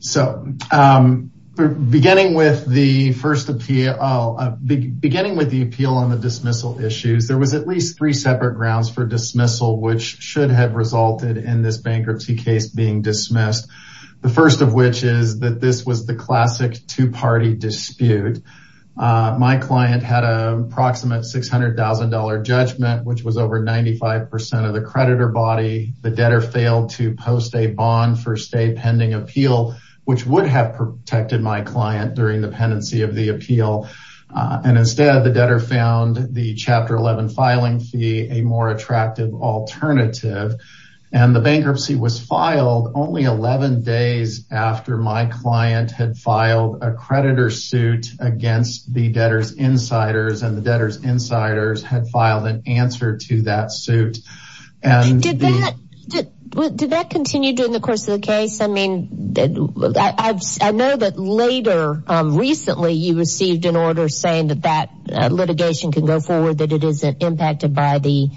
So, beginning with the first appeal, beginning with the appeal on the dismissal issues, there was at least three separate grounds for dismissal, which should have resulted in this bankruptcy case being dismissed. The first of which is that this was the classic two-party dispute. My client had a proximate $600,000 judgment, which was over 95% of the creditor body. The debtor failed to post a bond for stay pending appeal, which would have protected my client during the pendency of the appeal. And instead, the debtor found the Chapter 11 filing fee a more attractive alternative. And the bankruptcy was filed only 11 days after my client had filed a creditor suit against the debtor's insiders, and the debtor's insiders had filed an answer to that suit. Did that continue during the course of the case? I mean, I know that later, recently, you received an order saying that that litigation could go forward, that it isn't impacted by the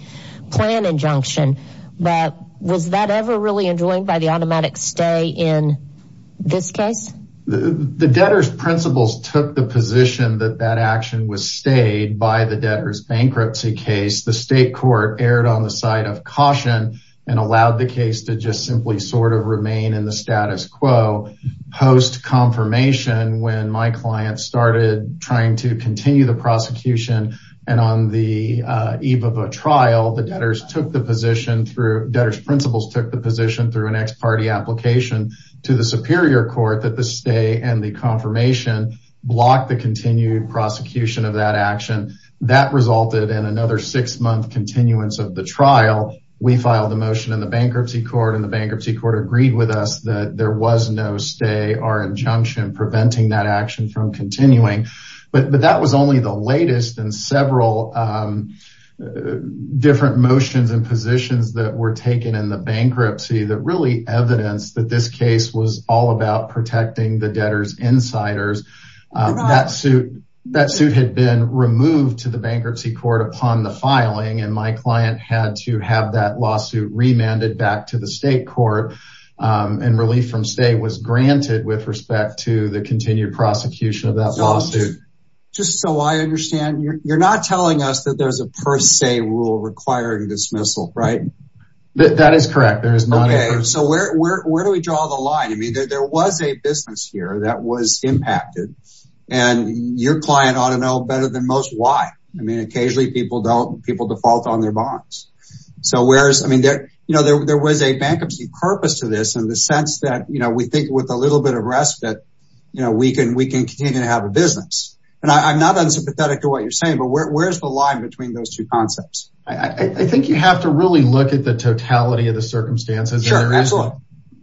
plan injunction, but was that ever really enjoined by the automatic stay in this case? The debtor's principals took the position that that action was stayed by the bankruptcy case. The state court erred on the side of caution and allowed the case to just simply sort of remain in the status quo. Post-confirmation, when my client started trying to continue the prosecution and on the eve of a trial, the debtor's principals took the position through an ex-party application to the Superior Court that the stay and the stay are injunction preventing that action from continuing. But that was only the latest in several different motions and positions that were taken in the bankruptcy that really evidence that this case was all about protecting the debtor's insiders. That suit had been removed to the bankruptcy court upon the filing and my client had to have that lawsuit remanded back to the state court and relief from stay was granted with respect to the continued prosecution of that lawsuit. Just so I understand, you're not telling us that there's a per se rule requiring dismissal, right? That is correct. So where do we draw the line? I mean, there was a business here that was impacted and your client ought to know better than most why. I mean, occasionally people default on their bonds. There was a bankruptcy purpose to this in the sense that we think with a little bit of risk that we can continue to have a business. And I'm not unsympathetic to what you're saying, but where's the line between those two concepts? I think you have to really look at the totality of the circumstances. Absolutely.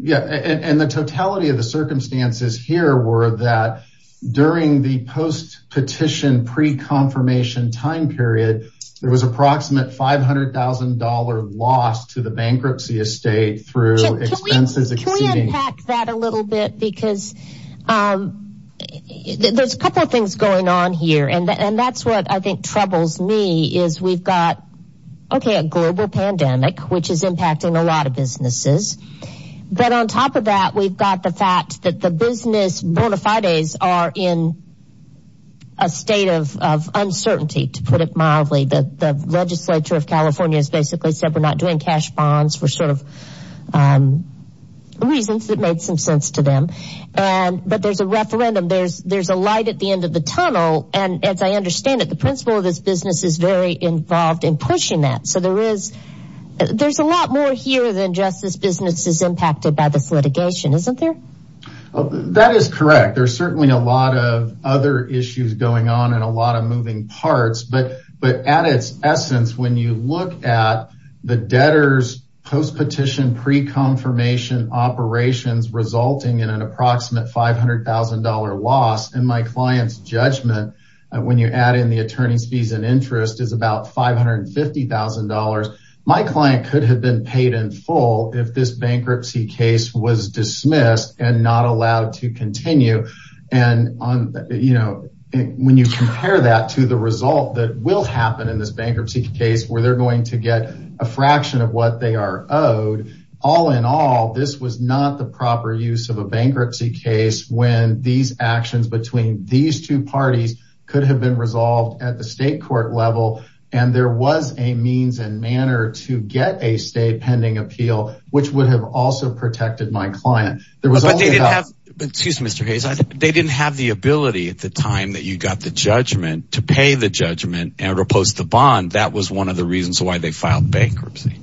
Yeah. And the totality of the circumstances here were that during the post petition pre-confirmation time period, there was approximate $500,000 loss to the bankruptcy estate through expenses. Can we unpack that a little bit? Because there's a couple of things going on here and that's what I think troubles me is we've got, okay, a global pandemic, which is impacting a lot of businesses. But on top of that, we've got the fact that the business bona fides are in a state of uncertainty to put it mildly. The legislature of California has basically said we're not doing cash bonds for reasons that made some sense to them. But there's a referendum, there's a light at the end of the So there's a lot more here than just this business is impacted by this litigation, isn't there? That is correct. There's certainly a lot of other issues going on and a lot of moving parts. But at its essence, when you look at the debtors post petition pre-confirmation operations resulting in an approximate $500,000 loss in my client's judgment, when you add in the attorney's fees is about $550,000. My client could have been paid in full if this bankruptcy case was dismissed and not allowed to continue. And when you compare that to the result that will happen in this bankruptcy case where they're going to get a fraction of what they are owed, all in all, this was not the proper use of a bankruptcy case when these actions between these two parties could have been resolved at the state court level. And there was a means and manner to get a stay pending appeal, which would have also protected my client. Excuse me, Mr. Hayes, they didn't have the ability at the time that you got the judgment to pay the judgment and repose the bond. That was one of the reasons why they filed bankruptcy,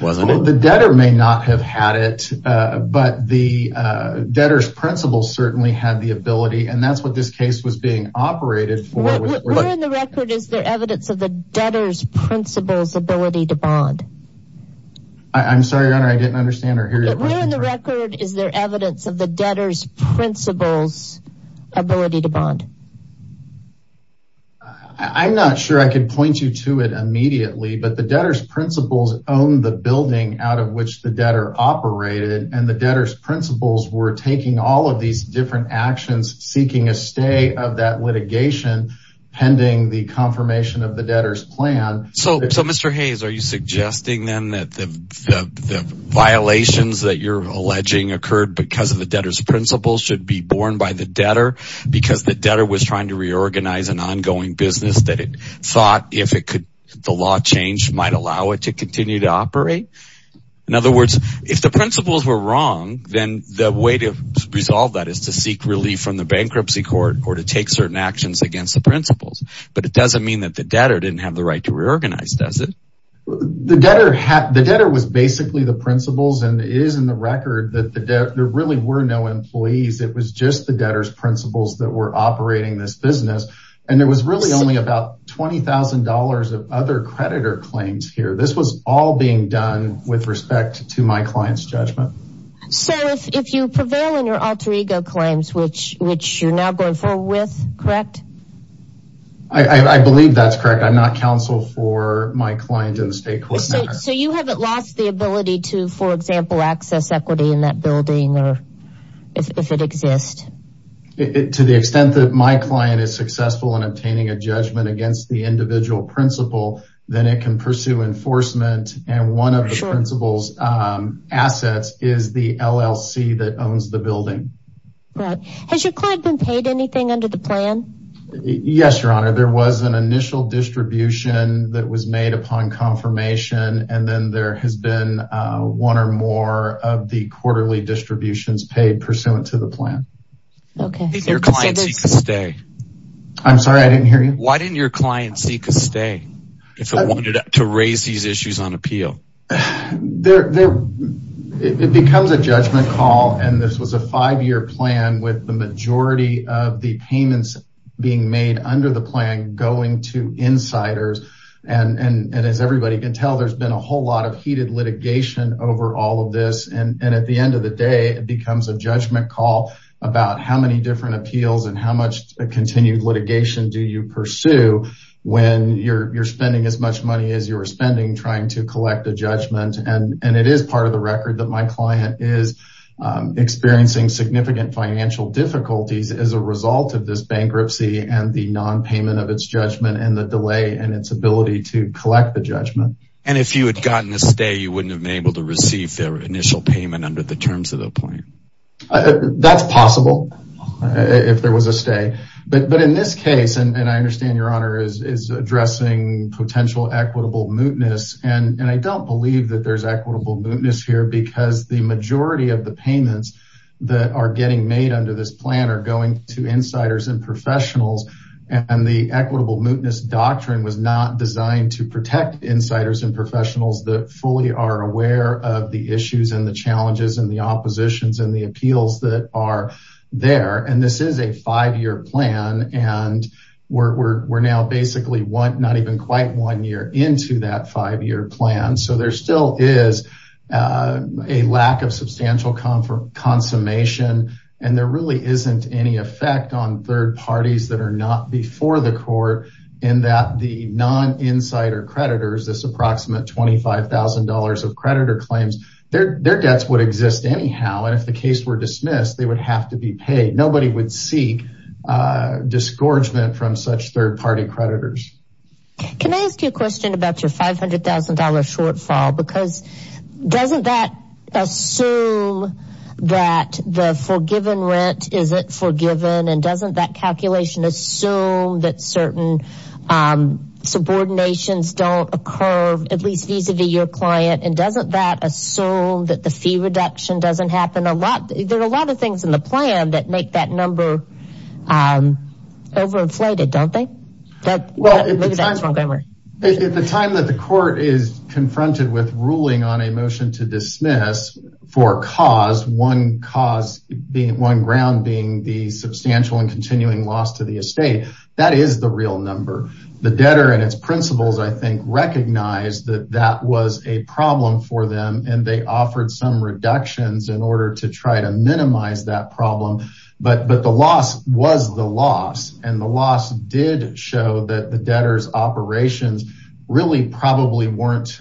wasn't it? The debtor may not have had it, but the debtor's principal certainly had the ability. And that's what this case was being operated for. Where in the record is there evidence of the debtor's principal's ability to bond? I'm sorry, your honor, I didn't understand or hear you. But where in the record is there evidence of the debtor's principal's ability to bond? I'm not sure I could point you to it immediately, but the debtor's principal's owned the building out of which the debtor operated. And the debtor's principal's were taking all of these different actions, seeking a stay of that litigation pending the confirmation of the debtor's plan. So Mr. Hayes, are you suggesting then that the violations that you're alleging occurred because of the debtor's principal should be borne by the debtor, because the debtor was trying to reorganize an ongoing business that it thought if it could, the law change might allow it to continue to operate? In other words, if the principal's wrong, then the way to resolve that is to seek relief from the bankruptcy court or to take certain actions against the principal's. But it doesn't mean that the debtor didn't have the right to reorganize, does it? The debtor was basically the principal's and it is in the record that there really were no employees. It was just the debtor's principal's that were operating this business. And there was really only about $20,000 of other creditor claims here. This was all being done with respect to my client's judgment. So if you prevail in your alter ego claims, which you're now going forward with, correct? I believe that's correct. I'm not counsel for my client in the state court. So you haven't lost the ability to, for example, access equity in that building or if it exists? To the extent that my client is successful in obtaining a judgment against the individual principal, then it can pursue enforcement. And one of the principal's assets is the LLC that owns the building. Right. Has your client been paid anything under the plan? Yes, your honor. There was an initial distribution that was made upon confirmation. And then there has been one or more of the quarterly distributions paid pursuant to the plan. Did your client seek a stay? I'm sorry, I didn't hear you. Why didn't your client seek a stay if it wanted to raise these issues on appeal? It becomes a judgment call. And this was a five-year plan with the majority of the payments being made under the plan going to insiders. And as everybody can tell, there's been a whole lot of heated litigation over all of this. And at the end of the day, it becomes a judgment call about how many different appeals and how much continued litigation do you pursue when you're spending as much money as you were spending trying to collect a judgment. And it is part of the record that my client is experiencing significant financial difficulties as a result of this bankruptcy and the non-payment of its judgment and the delay in its ability to collect the judgment. And if you had gotten a stay, you would have gotten a judgment call? That's possible if there was a stay. But in this case, and I understand your honor is addressing potential equitable mootness. And I don't believe that there's equitable mootness here because the majority of the payments that are getting made under this plan are going to insiders and professionals. And the equitable mootness doctrine was not designed to protect insiders and professionals that fully are aware of the issues and the challenges and the oppositions and the appeals that are there. And this is a five-year plan. And we're now basically not even quite one year into that five-year plan. So there still is a lack of substantial confirmation, and there really isn't any effect on third parties that are not before the court in that the insider creditors, this approximate $25,000 of creditor claims, their debts would exist anyhow. And if the case were dismissed, they would have to be paid. Nobody would seek disgorgement from such third party creditors. Can I ask you a question about your $500,000 shortfall? Because doesn't that assume that the forgiven rent, is it forgiven? And doesn't that don't occur at least vis-a-vis your client? And doesn't that assume that the fee reduction doesn't happen a lot? There are a lot of things in the plan that make that number overinflated, don't they? Well, at the time that the court is confronted with ruling on a motion to dismiss for cause, one cause being one ground being the substantial and continuing loss to the I think recognized that that was a problem for them, and they offered some reductions in order to try to minimize that problem. But the loss was the loss, and the loss did show that the debtor's operations really probably weren't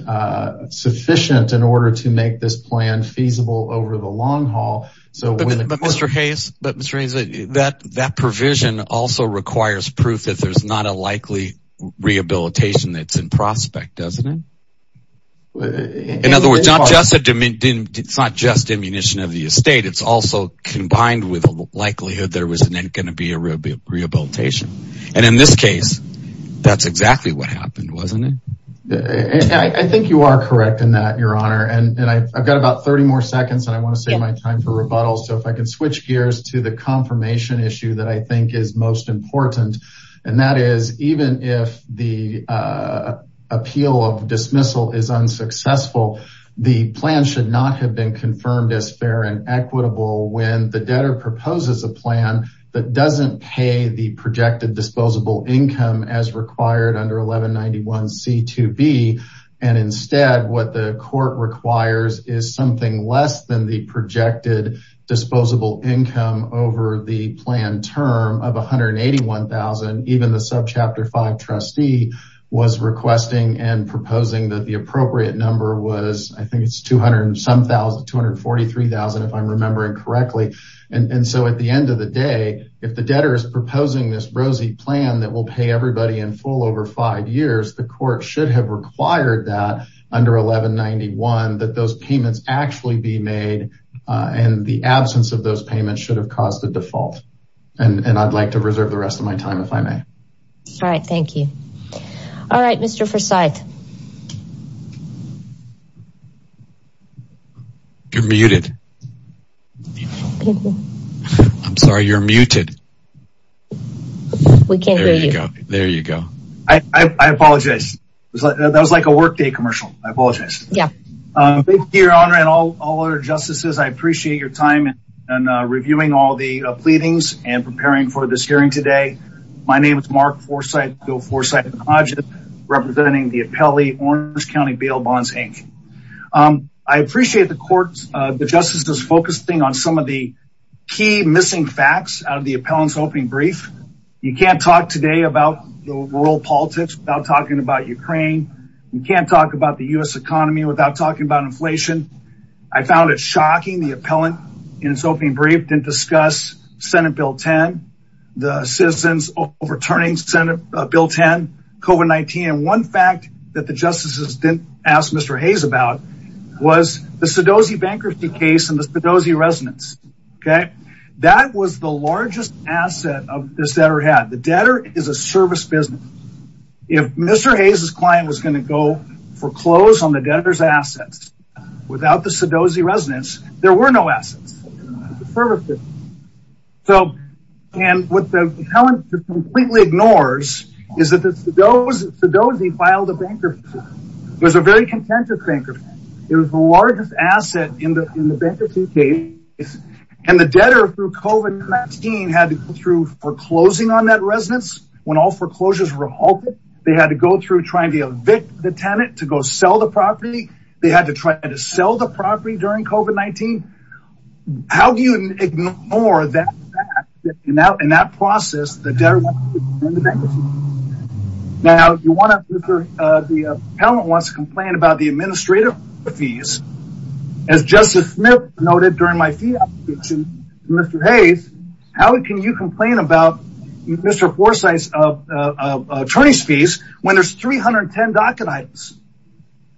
sufficient in order to make this plan feasible over the long haul. But Mr. Hayes, that provision also requires proof that there's not a likely rehabilitation that's in prospect, doesn't it? In other words, it's not just a diminution of the estate, it's also combined with a likelihood there was going to be a rehabilitation. And in this case, that's exactly what happened, wasn't it? I think you are correct in that, Your Honor. And I've got about 30 more seconds, and I want to save my time for rebuttal. So if I can switch gears to the confirmation issue that I think is most important. And that is, even if the appeal of dismissal is unsuccessful, the plan should not have been confirmed as fair and equitable when the debtor proposes a plan that doesn't pay the projected disposable income as required under 1191C2B. And instead, what the court requires is something less than the projected disposable income over the plan term of $181,000. Even the subchapter five trustee was requesting and proposing that the appropriate number was, I think it's $243,000 if I'm remembering correctly. And so at the end of the day, if the debtor is proposing this rosy plan that will pay everybody in full over five years, the court should have required that under 1191C2B of those payments should have caused the default. And I'd like to reserve the rest of my time if I may. All right, thank you. All right, Mr. Forsythe. You're muted. I'm sorry, you're muted. We can't hear you. There you go. I apologize. That was like a workday commercial. I apologize. Thank you, Your Honor and all other justices. I appreciate your time and reviewing all the pleadings and preparing for this hearing today. My name is Mark Forsythe representing the appellee Orange County Bail Bonds, Inc. I appreciate the court, the justices focusing on some of the key missing facts out of the appellant's opening brief. You can't talk today about the rural without talking about inflation. I found it shocking the appellant in its opening brief didn't discuss Senate Bill 10, the citizens overturning Senate Bill 10, COVID-19. And one fact that the justices didn't ask Mr. Hayes about was the Sedozi bankruptcy case and the Sedozi residence. Okay. That was the largest asset of this debtor had. The debtor is a service business. If Mr. Hayes' client was going to go foreclose on the debtor's assets without the Sedozi residence, there were no assets. And what the appellant completely ignores is that the Sedozi filed a bankruptcy. It was a very contentious bankruptcy. It was the largest asset in the bankruptcy case. And the debtor through COVID-19 had to go through foreclosing on that property. They had to go through trying to evict the tenant to go sell the property. They had to try to sell the property during COVID-19. How do you ignore that in that process? Now, the appellant wants to complain about the administrative fees. As Justice Smith noted during my fee application to Mr. Hayes, how can you complain about Mr. Forsythe's attorney's fees when there's 310 docket items?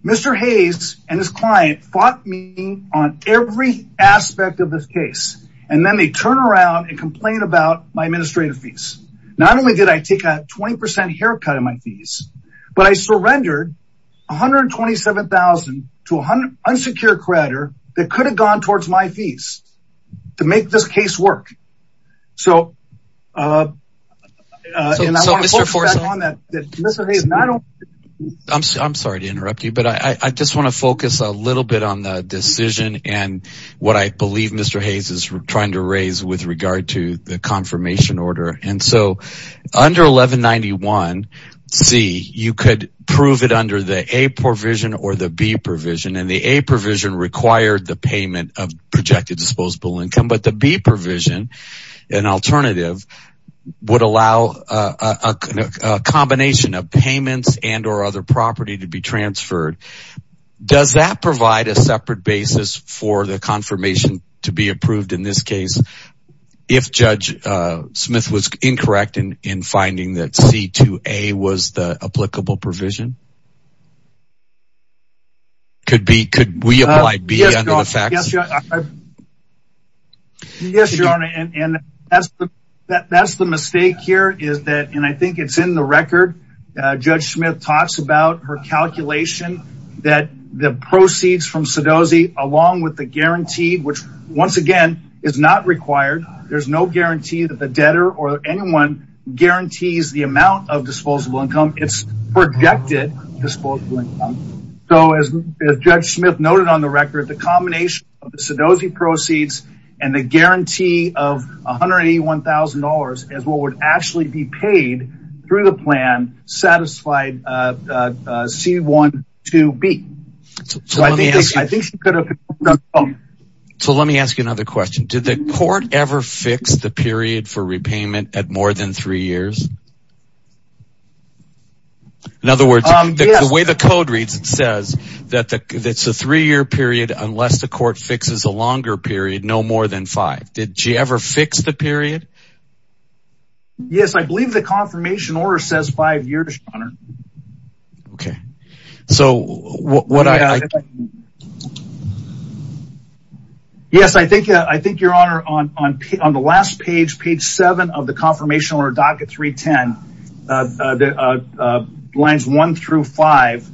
Mr. Hayes and his client fought me on every aspect of this case. And then they turn around and complain about my administrative fees. Not only did I take a 20% haircut in my fees, but I surrendered $127,000 to an unsecured creditor that could have gone towards my fees to make this case work. I'm sorry to interrupt you, but I just want to focus a little bit on the decision and what I believe Mr. Hayes is trying to raise with regard to the confirmation order. And so under 1191C, you could prove it under the A provision or the B provision, and the A provision required the payment of projected disposable income. But the B provision, an alternative, would allow a combination of payments and or other property to be transferred. Does that provide a separate basis for the confirmation to be approved in this case if Judge Smith was incorrect in finding that C to A was the applicable provision? Could we apply B under the facts? Yes, Your Honor. And that's the mistake here is that, and I think it's in the record, Judge Smith talks about her calculation that the proceeds from Sedozi, along with the guarantee, which once again is not required. There's no guarantee that the debtor or anyone guarantees the amount of disposable income. It's projected that the debtor would get disposable income. So as Judge Smith noted on the record, the combination of the Sedozi proceeds and the guarantee of $181,000 as what would actually be paid through the plan satisfied C-1-2-B. So let me ask you another question. Did the court ever fix the period for repayment at more than three years? In other words, the way the code reads, it says that it's a three-year period unless the court fixes a longer period, no more than five. Did she ever fix the period? Yes, I believe the confirmation order says five years, Your Honor. Okay. Yes, I think, Your Honor, on the last page, page seven of the confirmation order, docket 310, lines one through five,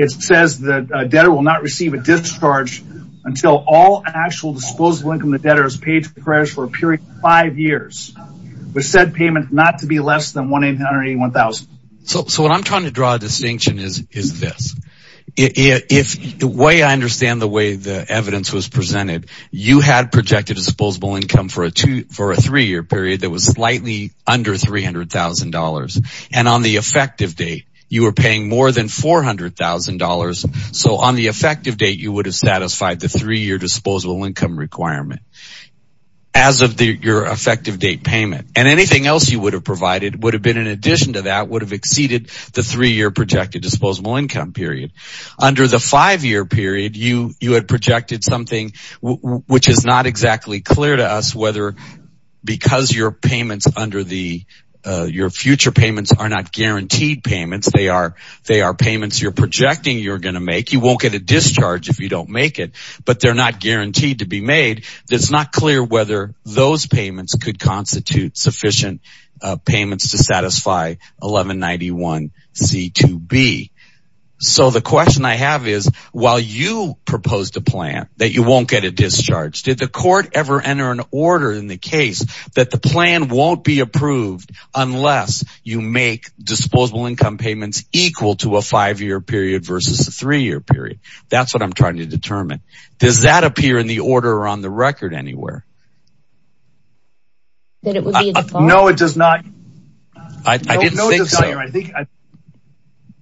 it says that a debtor will not receive a discharge until all actual disposable income the debtor has paid to the creditors for a period of five years with said payment not to be less than $181,000. So what I'm trying to draw a distinction is this. If the way I understand the way the evidence was presented, you had projected a disposable income for a three-year period that was slightly under $300,000. And on the effective date, you were paying more than $400,000. So on the effective date, you would have satisfied the three-year disposable income requirement as of your effective date payment. And anything else you would have provided would have been in addition to that, would have exceeded the three-year projected disposable income period. Under the five-year period, you had projected something which is not exactly clear to us whether because your future payments are not guaranteed payments, they are payments you're projecting you're going to make. You won't get a discharge if you don't make it, but they're not guaranteed to be made. It's not clear whether those payments could constitute sufficient payments to satisfy 1191C2B. So the question I have is while you proposed a plan that you won't get a discharge, did the court ever enter an order in the case that the plan won't be approved unless you make disposable income payments equal to a five-year period versus a three-year period? That's what I'm trying to determine. Does that appear in the order on the record anywhere? No, it does not. I didn't think so.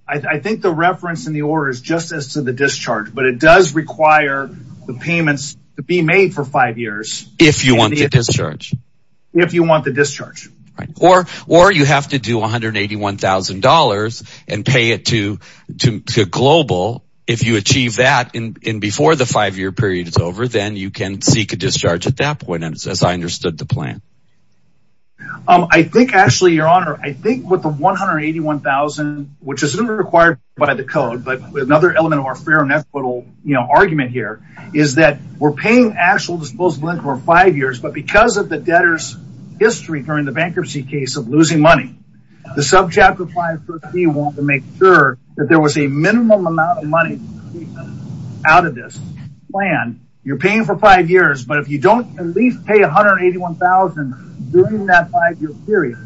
I think the reference in the order is just as to the discharge, but it does require the payments to be made for five years. If you want a discharge. Or you have to do $181,000 and pay it to global. If you achieve that before the five-year period is over, then you can seek a discharge at that point, as I understood the plan. I think actually, your honor, I think with the $181,000, which isn't required by the code, but another element of our fair and equitable argument here is that we're paying actual five years, but because of the debtor's history during the bankruptcy case of losing money, the subchapter 531 to make sure that there was a minimum amount of money out of this plan, you're paying for five years, but if you don't at least pay $181,000 during that five-year period,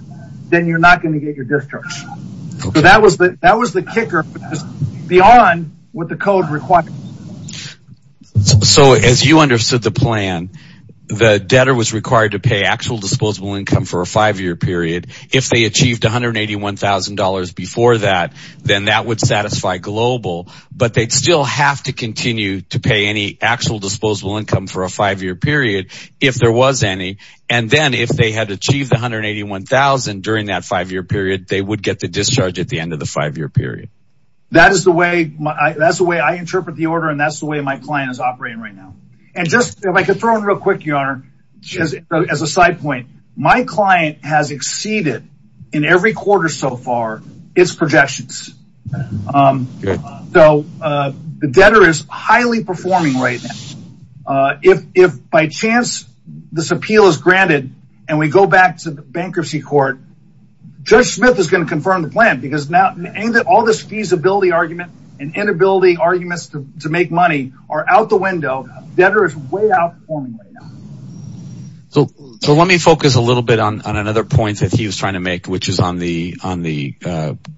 then you're not going to get your discharge. That was the kicker beyond what the code required. As you understood the plan, the debtor was required to pay actual disposable income for a five-year period. If they achieved $181,000 before that, then that would satisfy global, but they'd still have to continue to pay any actual disposable income for a five-year period if there was any, and then if they had achieved $181,000 during that five-year period, they would get the discharge at the end of the five-year period. That is the way I interpret the order, and that's the way my client is operating right now. And just if I could throw in real quick, your honor, as a side point, my client has exceeded in every quarter so far its projections. So the debtor is highly performing right now. If by chance this appeal is granted and we go back to the bankruptcy court, Judge Smith is going to confirm the plan because now all this feasibility argument and inability arguments to make money are out the window. Debtor is way outperforming right now. So let me focus a little bit on another point that he was trying to make, which is on the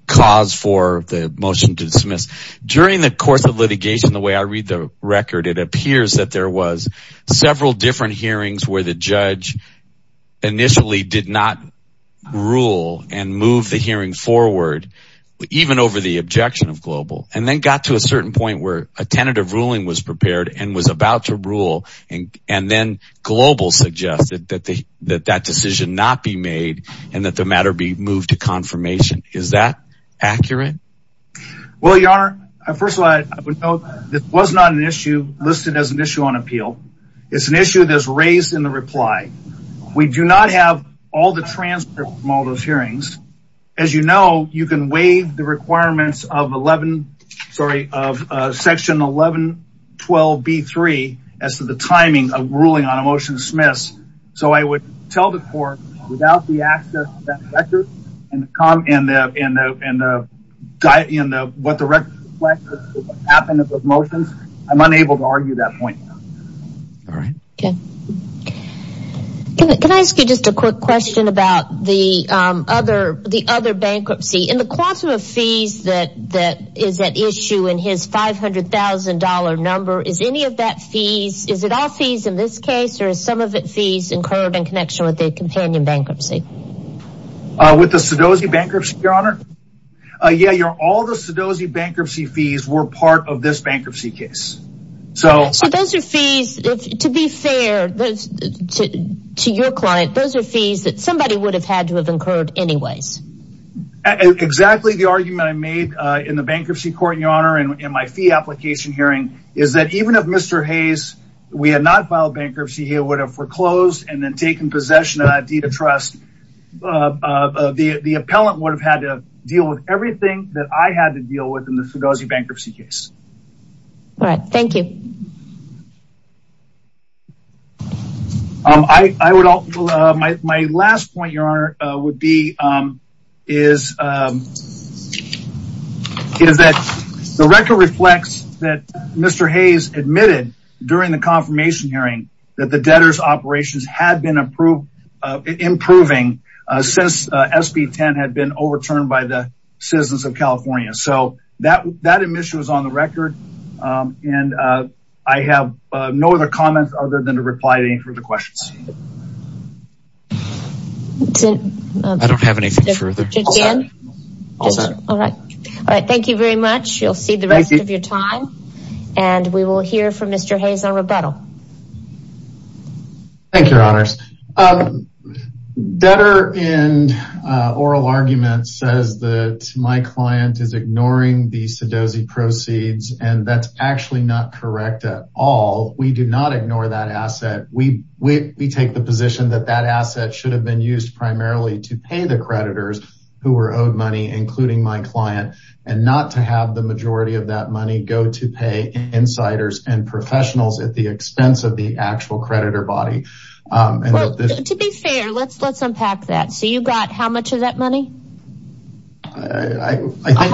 cause for the motion to dismiss. During the course of litigation, the way I read the record, it appears that there was several different hearings where the judge initially did not rule and move the hearing forward, even over the objection of Global, and then got to a certain point where a tentative ruling was prepared and was about to rule, and then Global suggested that that decision not be made and that the matter be moved to confirmation. Is that accurate? Well, your honor, first of all, this was not an issue on appeal. It's an issue that was raised in the reply. We do not have all the transcripts from all those hearings. As you know, you can waive the requirements of section 1112B3 as to the timing of ruling on a motion to dismiss. So I would tell the court without the access to the transcripts of the motions, I'm unable to argue that point. Can I ask you just a quick question about the other bankruptcy? In the quantum of fees that is at issue in his $500,000 number, is any of that fees, is it all fees in this case, or is some of it fees incurred in connection with the companion bankruptcy? With the Sedozi bankruptcy, your honor? Yeah, all the Sedozi bankruptcy fees were part of this bankruptcy case. So those are fees, to be fair to your client, those are fees that somebody would have had to have incurred anyways. Exactly. The argument I made in the bankruptcy court, your honor, in my fee application hearing is that even if Mr. Hayes, we had not filed bankruptcy, would have foreclosed and then taken possession of Adida Trust, the appellant would have had to deal with everything that I had to deal with in the Sedozi bankruptcy case. All right, thank you. My last point, your honor, would be is that the record reflects that Mr. Hayes admitted during the confirmation hearing that the debtor's operations had been improving since SB10 had been overturned by the citizens of California. So that admission was on the record, and I have no other comments other than to reply to any further questions. I don't have anything further. All right, thank you very much. You'll see the rest of your time, and we will hear from Mr. Hayes on rebuttal. Thank you, your honors. Debtor in oral argument says that my client is ignoring the Sedozi proceeds and that's actually not correct at all. We do not ignore that asset. We take the position that that asset should have been used primarily to pay the creditors who were owed money, including my client, and not to have the majority of that money go to pay insiders and professionals at the expense of the actual creditor body. To be fair, let's unpack that. So you got how much of that money? I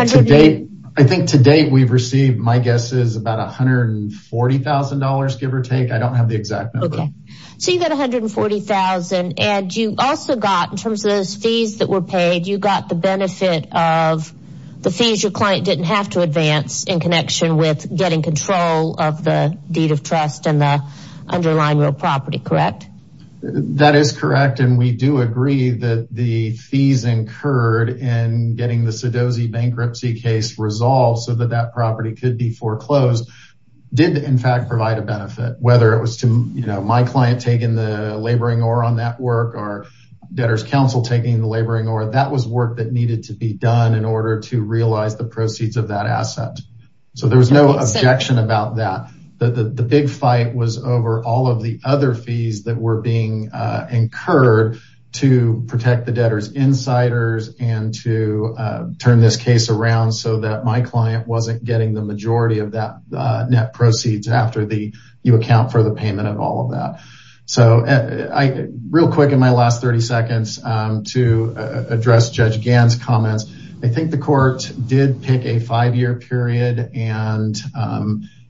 think to date we've received, my guess is about $140,000, give or take. I don't have the exact number. Okay, so you got $140,000, and you also got, in terms of those fees that were paid, you got the benefit of the fees your client didn't have to advance in connection with getting control of the deed of trust and the underlying real property, correct? That is correct, and we do agree that the fees incurred in getting the Sedozi bankruptcy case resolved so that that property could be foreclosed did in fact provide a benefit, whether it was to, you know, my client taking the laboring or on that work or debtor's counsel taking the work that needed to be done in order to realize the proceeds of that asset. So there's no objection about that. The big fight was over all of the other fees that were being incurred to protect the debtors insiders and to turn this case around so that my client wasn't getting the majority of that net proceeds after you account for the payment of all of that. So real quick in my comments, I think the court did pick a five-year period, and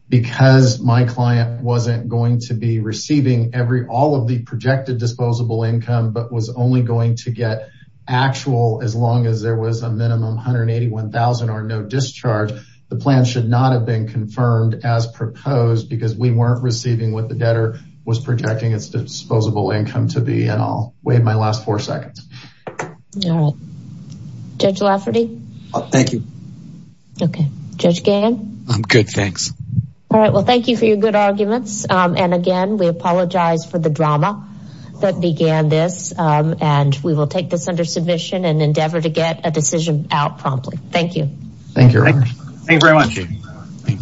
because my client wasn't going to be receiving every all of the projected disposable income but was only going to get actual as long as there was a minimum $181,000 or no discharge, the plan should not have been confirmed as proposed because we weren't receiving what the debtor was projecting its disposable income to be, I'll waive my last four seconds. All right, Judge Lafferty. Thank you. Okay, Judge Gahan. I'm good, thanks. All right, well, thank you for your good arguments. And again, we apologize for the drama that began this, and we will take this under submission and endeavor to get a decision out promptly. Thank you. Thank you very much. Thank you.